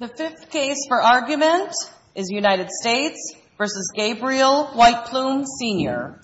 The fifth case for argument is United States v. Gabriel White Plume, Sr.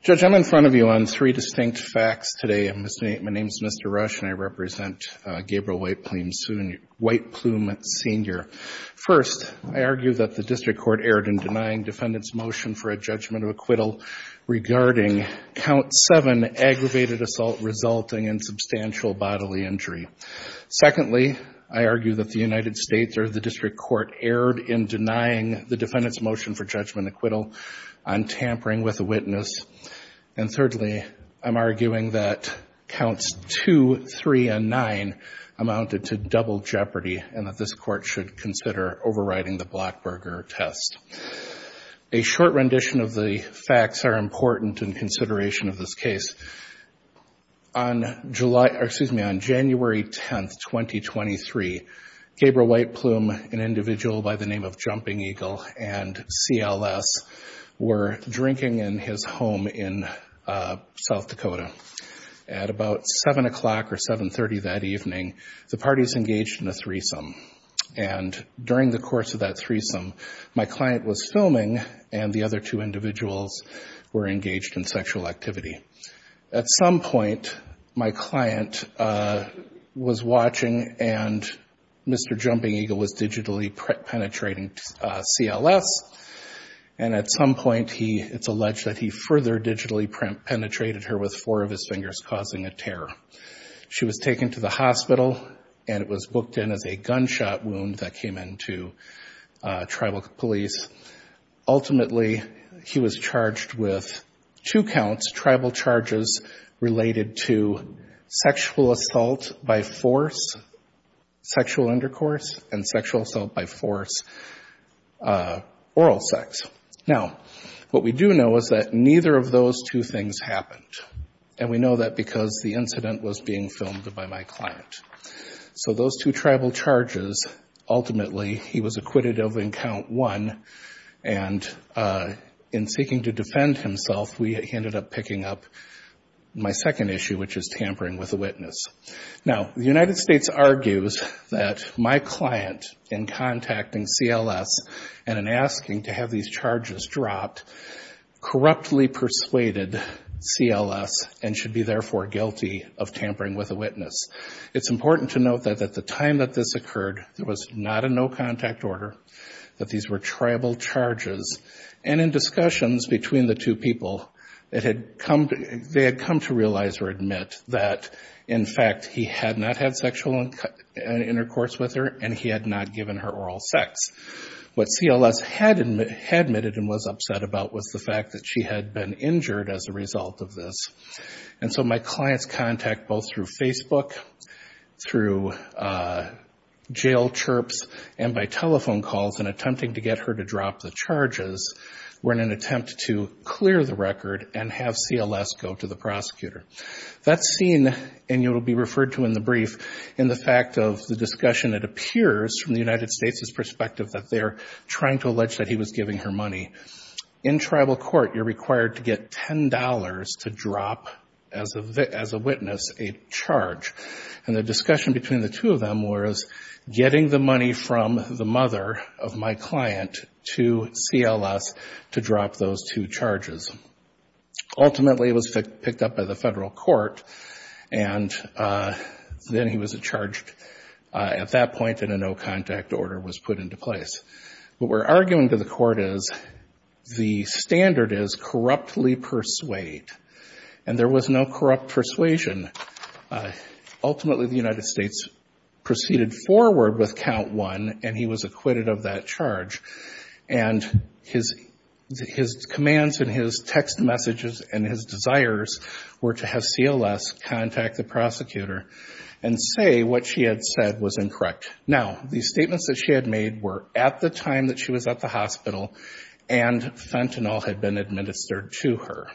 Judge, I'm in front of you on three distinct facts today. My name is Mr. Rush, and I represent Gabriel White Plume, Sr. First, I argue that the district court erred in denying defendants' motion for a judgment of acquittal regarding count seven aggravated assault resulting in substantial bodily injury. Secondly, I argue that the United States or the district court erred in denying the defendants' motion for judgment of an acquittal on tampering with a witness. And thirdly, I'm arguing that counts two, three, and nine amounted to double jeopardy and that this court should consider overriding the Blackberger test. A short rendition of the facts are important in consideration of this case. On January 10, 2023, Gabriel White Plume, an individual by the name of Jumping Eagle, and CLS were drinking in his home in South Dakota. At about 7 o'clock or 7.30 that evening, the parties engaged in a threesome. And during the course of that threesome, my client was filming, and the other two individuals were engaged in sexual activity. At some point, my client was watching, and Mr. Jumping Eagle was digitally penetrating CLS, and at some point, it's alleged that he further digitally penetrated her with four of his fingers, causing a tear. She was taken to the hospital, and it was booked in as a gunshot wound that came in to tribal police. Ultimately, he was charged with two counts, tribal charges related to sexual assault by force, sexual undercourse, and sexual assault by force, oral sex. Now, what we do know is that neither of those two things happened. And we know that because the incident was being filmed by my client. So those two tribal charges, ultimately, he was acquitted of in count one, and in seeking to defend himself, we ended up picking up my second issue, which is tampering with a witness. Now, the United States argues that my client, in contacting CLS and in asking to have these charges dropped, corruptly persuaded CLS and should be, therefore, guilty of tampering with a witness. It's important to note that at the time that this occurred, there was not a no-contact order, that these were tribal charges. And in discussions between the two people, they had come to realize or admit that, in fact, he had not had sexual intercourse with her, and he had not given her oral sex. What they were talking about was the fact that she had been injured as a result of this. And so my client's contact, both through Facebook, through jail chirps, and by telephone calls in attempting to get her to drop the charges, were in an attempt to clear the record and have CLS go to the prosecutor. That's seen, and it will be referred to in the brief, in the fact of the discussion, it appears, from the United States' perspective, that they're trying to allege that he was giving her money. In tribal court, you're required to get $10 to drop, as a witness, a charge. And the discussion between the two of them was getting the money from the mother of my client to CLS to drop those two charges. Ultimately, it was picked up by the federal court, and then he was charged at that point, and a no-contact order was put into place. What we're arguing to the court is the standard is corruptly persuade, and there was no corrupt persuasion. Ultimately, the United States proceeded forward with count one, and he was acquitted of that charge. And his commands and his text messages and his desires were to have CLS contact the prosecutor and say what she had said was incorrect. Now, the statements that she had made were at the time that she was at the hospital, and fentanyl had been administered to her.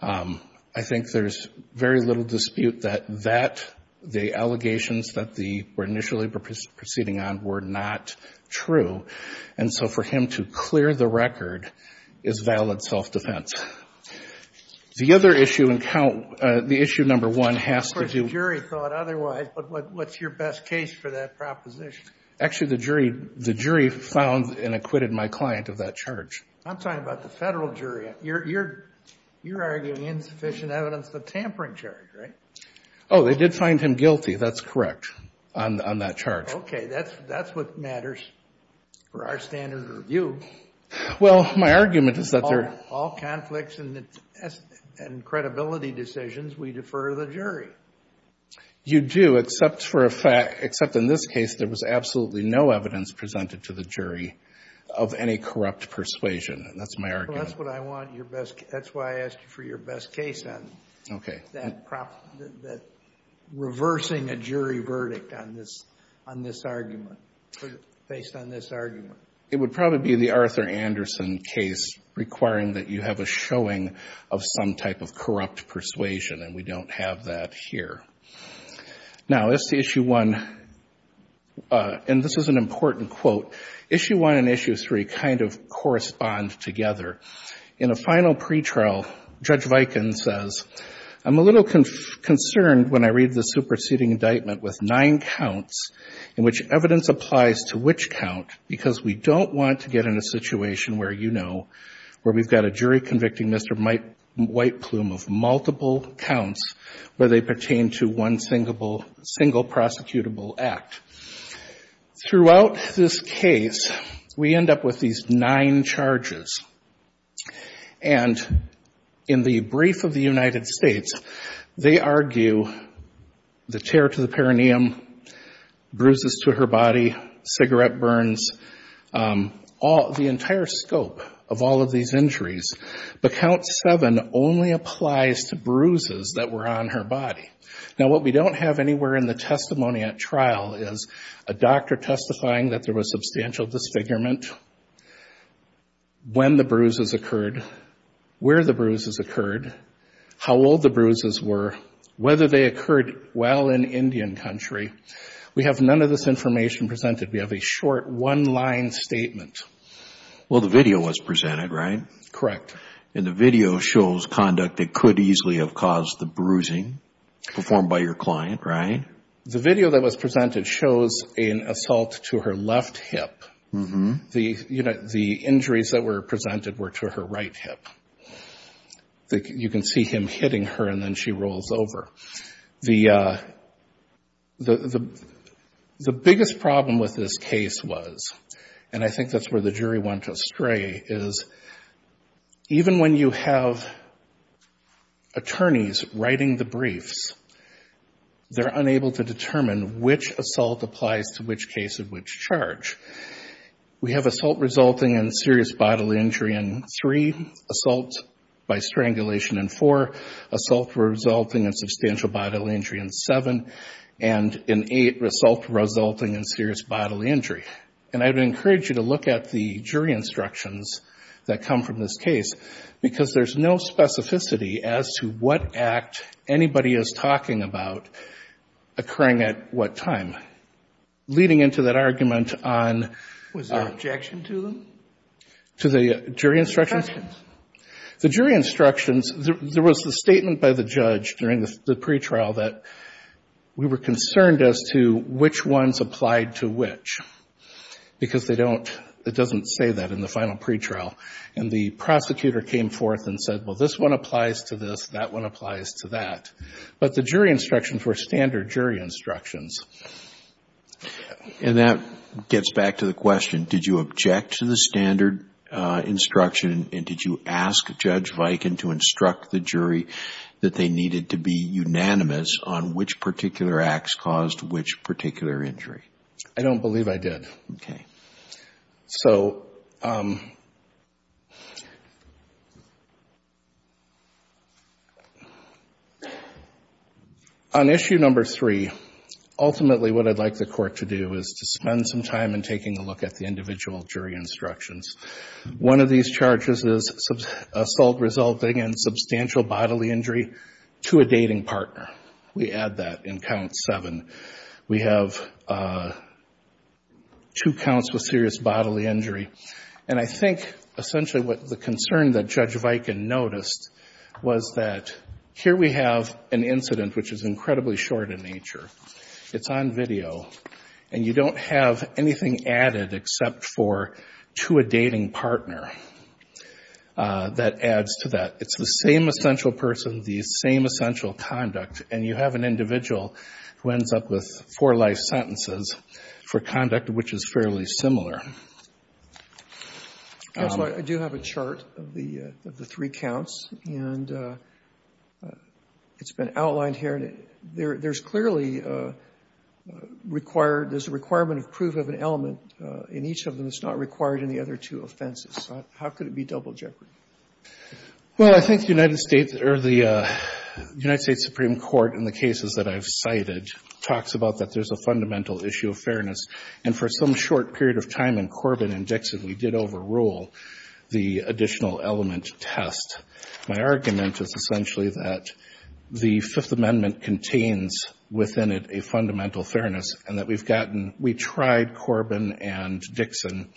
I think there's very little dispute that that, the allegations that were initially proceeding on were not true. And so for him to clear the record is valid self-defense. The other issue in count, the issue number one has to do with... Actually, the jury found and acquitted my client of that charge. I'm talking about the federal jury. You're arguing insufficient evidence of tampering charge, right? Oh, they did find him guilty. That's correct on that charge. Okay. That's what matters for our standard of review. All conflicts and credibility decisions, we defer the jury. You do, except for a fact, except in this case, there was absolutely no evidence presented to the jury of any corrupt persuasion. And that's my argument. Well, that's what I want. That's why I asked you for your best case on that, reversing a jury verdict on this argument, based on this argument. It would probably be the Arthur Anderson case requiring that you have a showing of some type of corrupt persuasion, and we don't have that here. Now, as to issue one, and this is an important quote, issue one and issue three kind of correspond together. In a final pretrial, Judge Viken says, I'm a little concerned when I read the superseding indictment with nine counts, in which evidence applies to which count, because we don't want to get in a situation where you know, where we've got a jury convicting Mr. White Plume of multiple counts, where they pertain to one single prosecutable act. Throughout this case, we end up with these nine charges. And in the brief of the United States, they argue the tear to the perineum, bruises to her body, cigarette burns, all of these injuries, but count seven only applies to bruises that were on her body. Now, what we don't have anywhere in the testimony at trial is a doctor testifying that there was substantial disfigurement, when the bruises occurred, where the bruises occurred, how old the bruises were, whether they occurred while in Indian country. We have none of this information presented. We have a short one-line statement. Well, the video was presented, right? Correct. And the video shows conduct that could easily have caused the bruising performed by your client, right? The video that was presented shows an assault to her left hip. The injuries that were presented were to her right hip. You can see him hitting her, and then she rolls over. The biggest problem with this case was, and I think that's where the jury went astray, is even when you have attorneys writing the briefs, they're unable to determine which assault applies to which case of which charge. We have assault resulting in serious bodily injury in three, assault by strangulation in four, assault resulting in substantial bodily injury in seven, and in eight, assault resulting in serious bodily injury. And I would encourage you to look at the jury instructions that come from this case, because there's no specificity as to what act anybody is talking about occurring at what time. Leading into that argument on the jury instructions, there was a statement by the judge during the pretrial that we were concerned as to which ones applied to which, because they don't, it doesn't say that in the final pretrial, and the prosecutor came forth and said, well, this one applies to this, that one applies to that. But the jury instructions were standard jury instructions. And that gets back to the question, did you object to the standard instruction, and did you ask Judge Viken to instruct the jury that they needed to be unanimous on which particular acts caused which particular injury? I don't believe I did. Okay. So on issue number three, ultimately what I'd like the Court to do is to spend some time in taking a look at the individual jury instructions. One of these charges is assault resulting in substantial bodily injury to a dating partner. We add that in count seven. We have two counts with serious bodily injury, and I think essentially what the concern that Judge Viken noticed was that here we have an incident which is incredibly short in nature. It's on video, and you don't have anything added except for to a dating partner that adds to that. It's the same essential person, the same essential conduct, and you have an individual who ends up with four life sentences for conduct which is fairly similar. Counsel, I do have a chart of the three counts, and it's been outlined here. There's clearly a requirement of proof of an element in each of them that's not required in the other two offenses. How could it be double jeopardy? Well, I think the United States Supreme Court in the cases that I've cited talks about that there's a fundamental issue of fairness, and for some short period of time in Corbin and Dixon, we did overrule the additional element test. My argument is essentially that the Fifth Amendment contains within it a fundamental fairness, and that we've gotten, we tried Corbin and Dixon,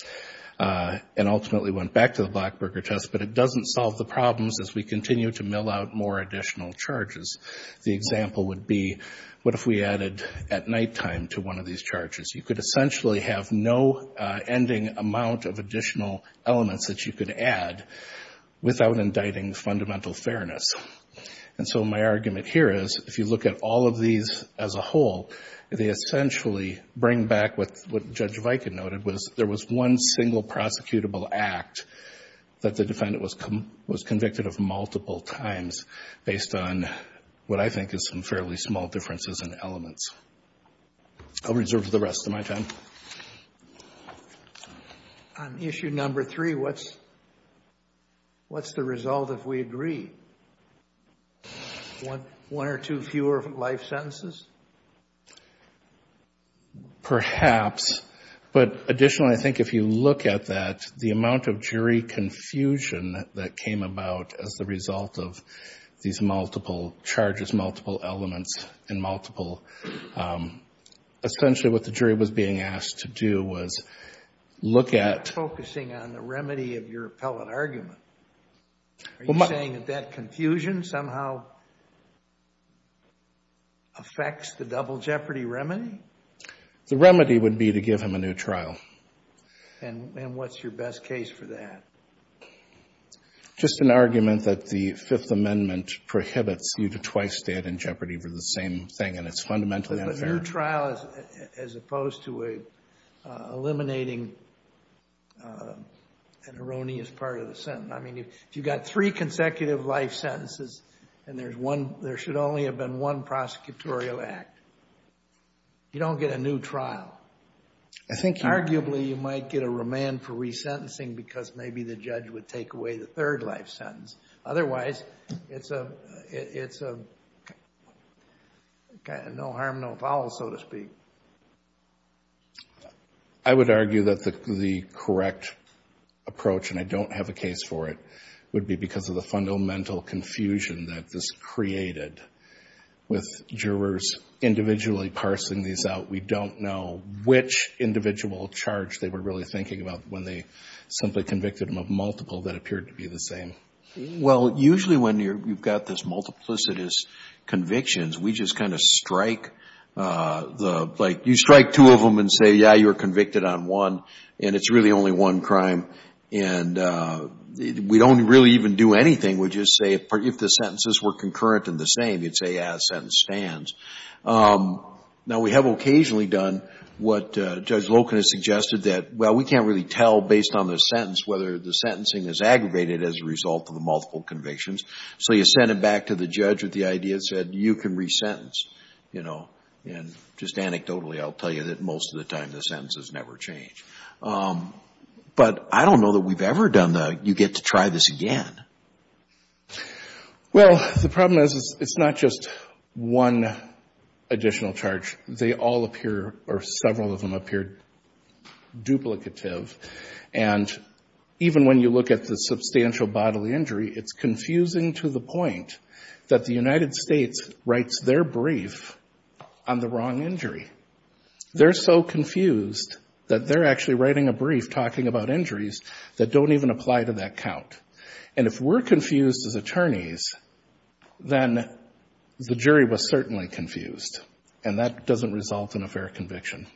and ultimately we found that the Fifth Amendment went back to the Blackburger test, but it doesn't solve the problems as we continue to mill out more additional charges. The example would be what if we added at nighttime to one of these charges? You could essentially have no ending amount of additional elements that you could add without indicting fundamental fairness. And so my argument here is if you look at all of these as a whole, they essentially bring back what Judge Viken noted was there was one single prosecutable act that the defendant was convicted of multiple times based on what I think is some fairly small differences in elements. I'll reserve the rest of my time. On issue number three, what's the result if we agree? One or two fewer life sentences? Perhaps. But additionally, I think if you look at that, the amount of jury confusion that came about as the result of these multiple charges, multiple elements, and multiple, essentially what the jury was being asked to do was look at... You're not focusing on the remedy of your appellate argument. Are you saying that that confusion somehow affects the double jeopardy? The remedy would be to give him a new trial. And what's your best case for that? Just an argument that the Fifth Amendment prohibits you to twice stand in jeopardy for the same thing, and it's fundamentally unfair. A new trial as opposed to eliminating an erroneous part of the sentence. I mean, if you've got three consecutive life sentences and there should only have been one prosecutorial act, you don't get a new trial. Arguably, you might get a remand for resentencing because maybe the judge would take away the third life sentence. Otherwise, it's a no harm, no foul, so to speak. I would argue that the correct approach, and I don't have a case for it, would be because of the fundamental confusion that this created with jurors individually parsing these out. We don't know which individual charge they were really thinking about when they simply convicted him of multiple that appeared to be the same. Well, usually when you've got this multiplicitous convictions, we just kind of strike... You strike two of them and say, yeah, you were convicted on one, and it's really only one crime. And we don't really even do anything. We just say, if the sentences were concurrent and the same, you'd say, yeah, the sentence stands. Now, we have occasionally done what Judge Loken has suggested that, well, we can't really tell based on the sentence whether the sentencing is aggravated as a result of the multiple convictions. So you send it back to the judge with the idea that you can resentence. And just anecdotally, I'll tell you that most of the time the sentences never change. But I don't know that we've ever done the, you get to try this again. Well, the problem is it's not just one additional charge. They all appear, or several of them appear duplicative. And even when you look at the substantial bodily injury, it's confusing to the point that the United States writes their brief on the wrong injury. They're so confused that they're actually writing a brief talking about injuries that don't even apply to that count. And if we're confused as attorneys, then the jury was certainly confused, and that doesn't result in a fair conviction.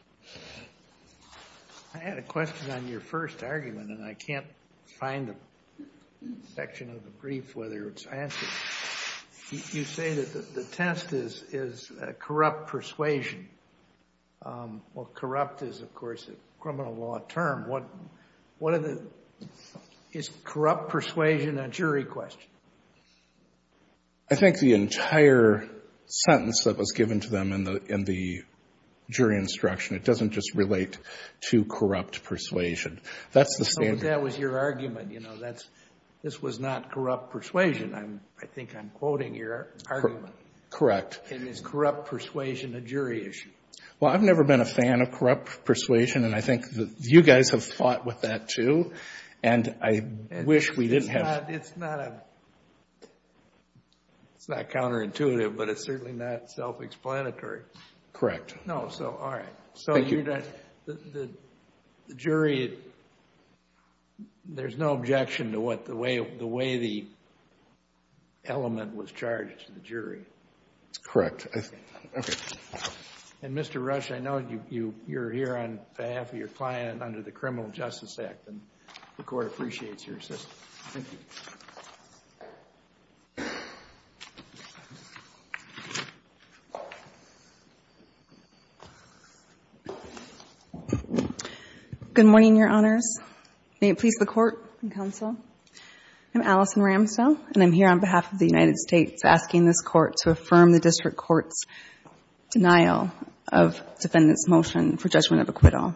I had a question on your first argument, and I can't find a section of the brief whether it's answered. You say that the test is corrupt persuasion. Well, corrupt is, of course, a criminal law term. Is corrupt persuasion a jury question? I think the entire sentence that was given to them in the jury instruction, it doesn't just relate to corrupt persuasion. That's the standard. I think I'm quoting your argument. Correct. And is corrupt persuasion a jury issue? Well, I've never been a fan of corrupt persuasion, and I think that you guys have fought with that, too, and I wish we didn't have. It's not counterintuitive, but it's certainly not self-explanatory. I think the element was charged to the jury. It's correct, I think. And, Mr. Rush, I know you're here on behalf of your client under the Criminal Justice Act, and the Court appreciates your assistance. Good morning, Your Honors. May it please the Court and Counsel. I'm Allison Ramsdell, and I'm here on behalf of the United States asking this Court to affirm the district court's denial of defendant's motion for judgment of acquittal.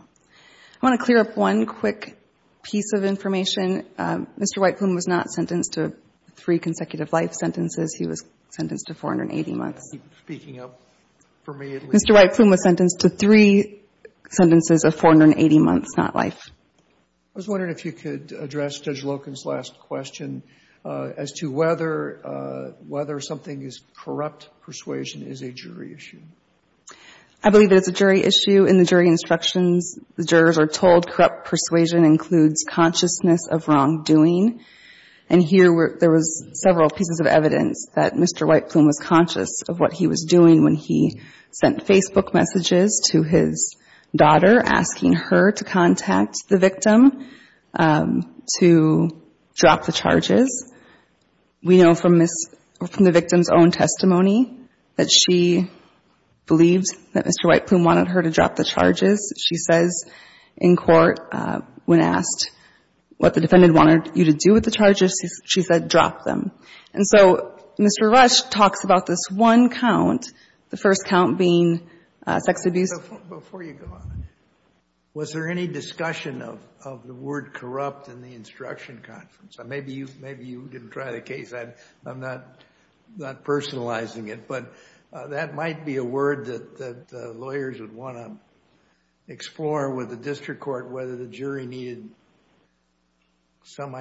I want to clear up one quick piece of information. Mr. White Plume was not sentenced to three consecutive life sentences. He was sentenced to 480 months. Mr. White Plume was sentenced to three sentences of 480 months, not life. I was wondering if you could address Judge Loken's last question as to whether something as corrupt persuasion is a jury issue. I believe it's a jury issue. In the jury instructions, the jurors are told corrupt persuasion includes consciousness of wrongdoing. And here, there was several pieces of evidence that Mr. White Plume was conscious of what he was doing when he sent Facebook messages to his daughter asking her to contact the victim to drop the charges. We know from the victim's own testimony that she believed that Mr. White Plume wanted her to drop the charges. She says in court when asked what the defendant wanted you to do with the charges, she said drop them. And so Mr. Rush talks about this one count, the first count being sex abuse. Before you go on, was there any discussion of the word corrupt in the instruction conference? Maybe you didn't try the case. I'm not personalizing it, but that might be a word that lawyers would want to explore with the district court whether the jury needed some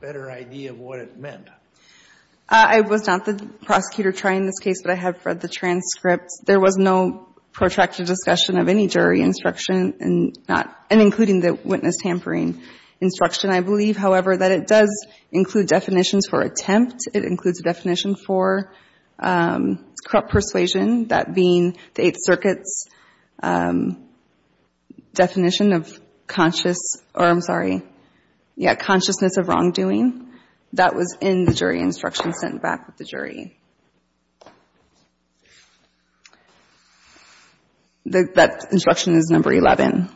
better idea of what it meant. I was not the prosecutor trying this case, but I have read the transcript. There was no protracted discussion of any jury instruction, and including the witness tampering instruction. I believe, however, that it does include definitions for attempt. It includes a definition for corrupt persuasion, that being the Eighth Circuit's definition of consciousness of wrongdoing. That was in the jury instruction sent back with the jury. That instruction is number 11.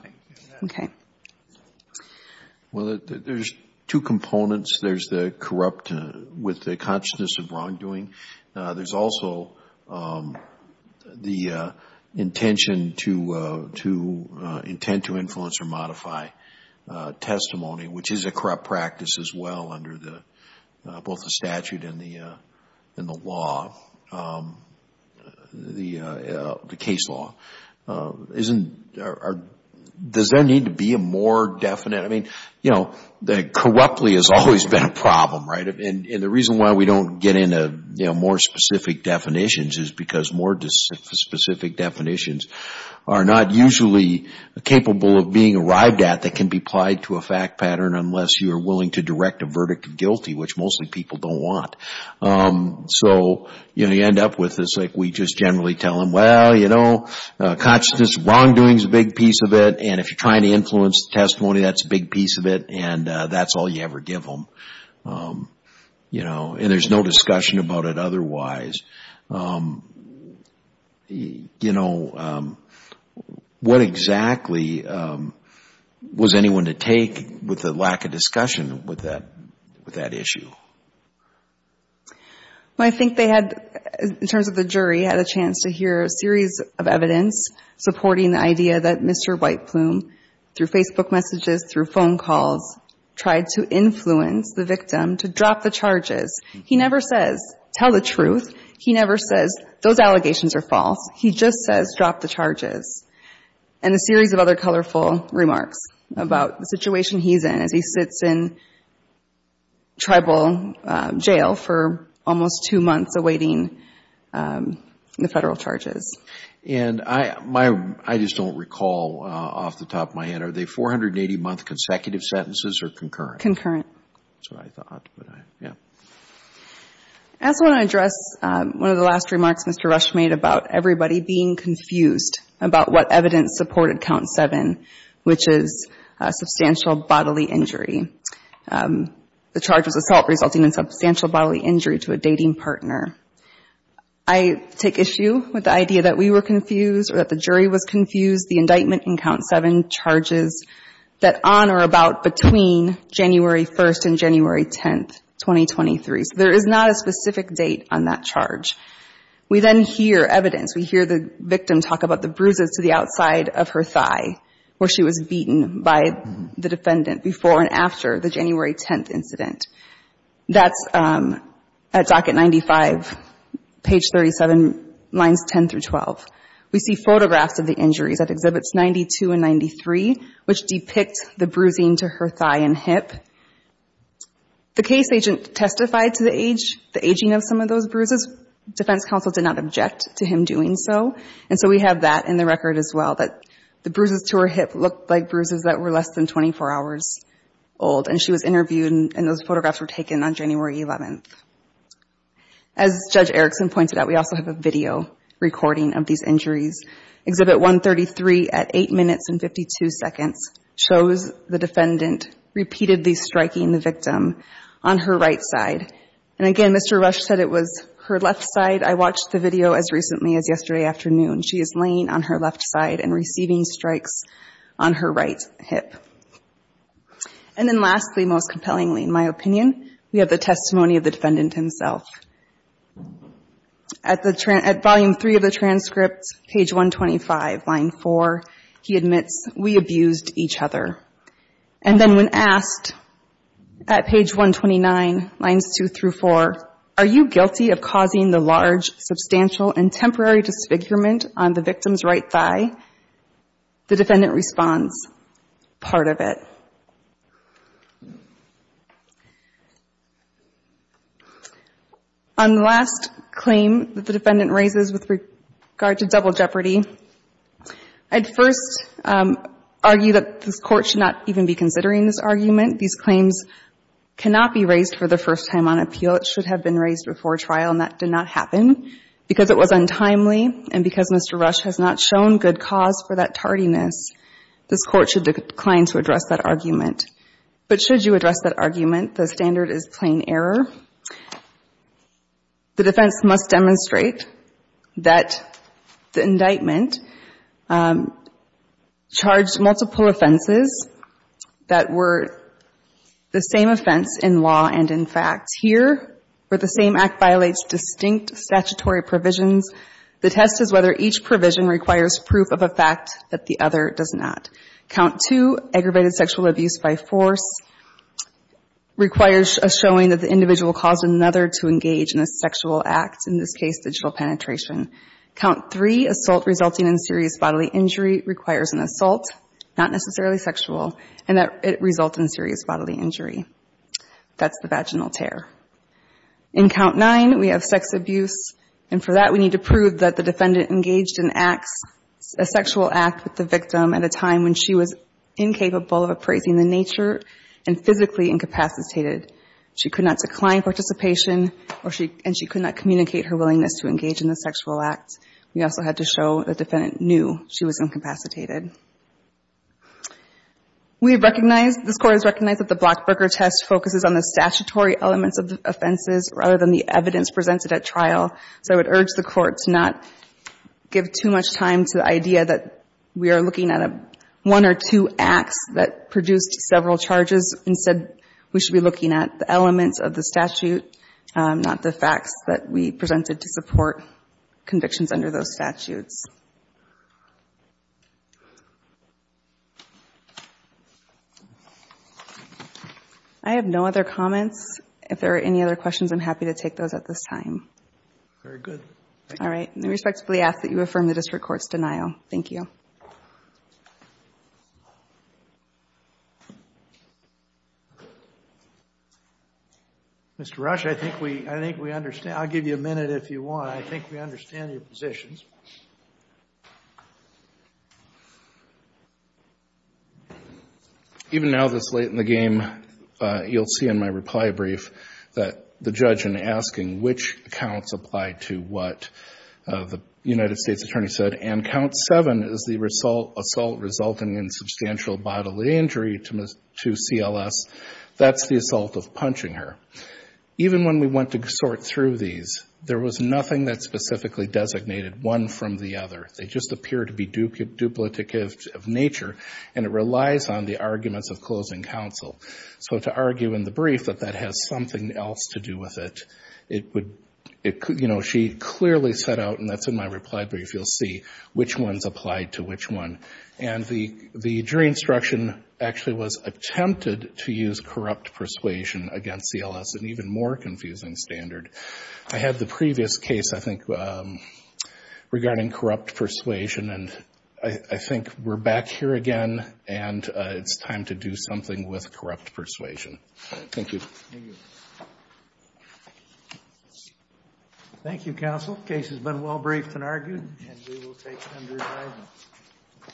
There's two components. There's the corrupt with the consciousness of wrongdoing. There's also the intention to intend to influence or modify testimony, which is a corrupt practice as well under both the statute and the law, the case law. Does there need to be a more definite? Corruptly has always been a problem, right? And the reason why we don't get into more specific definitions is because more specific definitions are not usually capable of being arrived at that can be applied to a fact pattern unless you are willing to direct a verdict of guilty, which mostly people don't want. So you end up with this, like we just generally tell them, well, you know, consciousness of wrongdoing is a big piece of it, and if you're trying to influence the testimony, that's a big piece of it, and that's all you ever give them. And there's no discussion about it otherwise. What exactly was anyone to take with the lack of discussion with that issue? Well, I think they had, in terms of the jury, had a chance to hear a series of evidence supporting the idea that Mr. White Plume, through Facebook messages, through phone calls, tried to influence the victim to drop the charges. He never says, tell the truth. He never says, those allegations are false. And a series of other colorful remarks about the situation he's in as he sits in tribal jail for almost two months awaiting the federal charges. And I just don't recall off the top of my head, are they 480-month consecutive sentences or concurrent? Concurrent. That's what I thought, but I, yeah. I also want to address one of the last remarks Mr. Rush made about everybody being confused about what evidence supported Count 7, which is a substantial bodily injury. The charge was assault resulting in substantial bodily injury to a dating partner. I take issue with the idea that we were confused or that the jury was confused. The indictment in Count 7 charges that on or about between January 1st and January 10th, 2023. So there is not a specific date on that charge. We then hear evidence. We hear the victim talk about the bruises to the outside of her thigh, where she was beaten by the defendant before and after the January 10th incident. That's at Docket 95, page 37, lines 10 through 12. Exhibits 92 and 93, which depict the bruising to her thigh and hip. The case agent testified to the age, the aging of some of those bruises. Defense counsel did not object to him doing so. And so we have that in the record as well, that the bruises to her hip looked like bruises that were less than 24 hours old. And she was interviewed and those photographs were taken on January 11th. As Judge Erickson pointed out, we also have a video recording of these injuries. Exhibit 133 at 8 minutes and 52 seconds shows the defendant repeatedly striking the victim on her right side. And again, Mr. Rush said it was her left side. I watched the video as recently as yesterday afternoon. She is laying on her left side and receiving strikes on her right hip. And then lastly, most compellingly, in my opinion, we have the testimony of the defendant himself. At volume 3 of the transcript, page 125, line 4, he admits, we abused each other. And then when asked at page 129, lines 2 through 4, are you guilty of causing the large, substantial and temporary disfigurement on the victim's right thigh? The defendant responds, part of it. On the last claim that the defendant raises with regard to double jeopardy, I'd first argue that this Court should not even be considering this argument. These claims cannot be raised for the first time on appeal. It should have been raised before trial and that did not happen because it was untimely and because Mr. Rush has not shown good cause for that tardiness. This Court should decline to address that argument. But should you address that argument, the standard is plain error. The defense must demonstrate that the indictment charged multiple offenses that were the same offense in law and in fact. Here, where the same act violates distinct statutory provisions, the test is whether each provision requires proof of a fact that the other does not. Count 2, aggravated sexual abuse by force, requires a showing that the individual caused another to engage in a sexual act, in this case, digital penetration. Count 3, assault resulting in serious bodily injury, requires an assault, not necessarily sexual, and that it result in serious bodily injury. That's the vaginal tear. In Count 9, we have sex abuse and for that we need to prove that the defendant engaged in acts, a sexual act with the victim at a time when she was incapable of appraising the nature and physically incapacitated. She could not decline participation and she could not communicate her willingness to engage in the sexual act. We also had to show the defendant knew she was incapacitated. We recognize, this Court has recognized that the Blockberger test focuses on the statutory elements of the offenses rather than the evidence presented at trial. So I would urge the Court to not give too much time to the idea that we are looking at one or two acts that produced several charges. Instead, we should be looking at the elements of the statute, not the facts that we presented to support convictions under those statutes. I have no other comments. If there are any other questions, I'm happy to take those at this time. All right, I respectfully ask that you affirm the District Court's denial. Thank you. Mr. Rush, I think we understand. I'll give you a minute if you want. I think we understand your positions. Even now, this late in the game, you'll see in my reply brief that the judge in asking which counts apply to what the United States Attorney said, and count 7 is the assault resulting in substantial bodily injury to CLS. That's the assault of punching her. Even when we went to sort through these, there was nothing that specifically designated one from the other. They just appear to be duplicative of nature, and it relies on the arguments of closing counsel. So to argue in the brief that that has something else to do with it, she clearly set out, and that's in my reply brief. You'll see which ones apply to which one. And the jury instruction actually was attempted to use corrupt persuasion against CLS, an even more confusing standard. I had the previous case, I think, regarding corrupt persuasion. And I think we're back here again, and it's time to do something with corrupt persuasion. Thank you.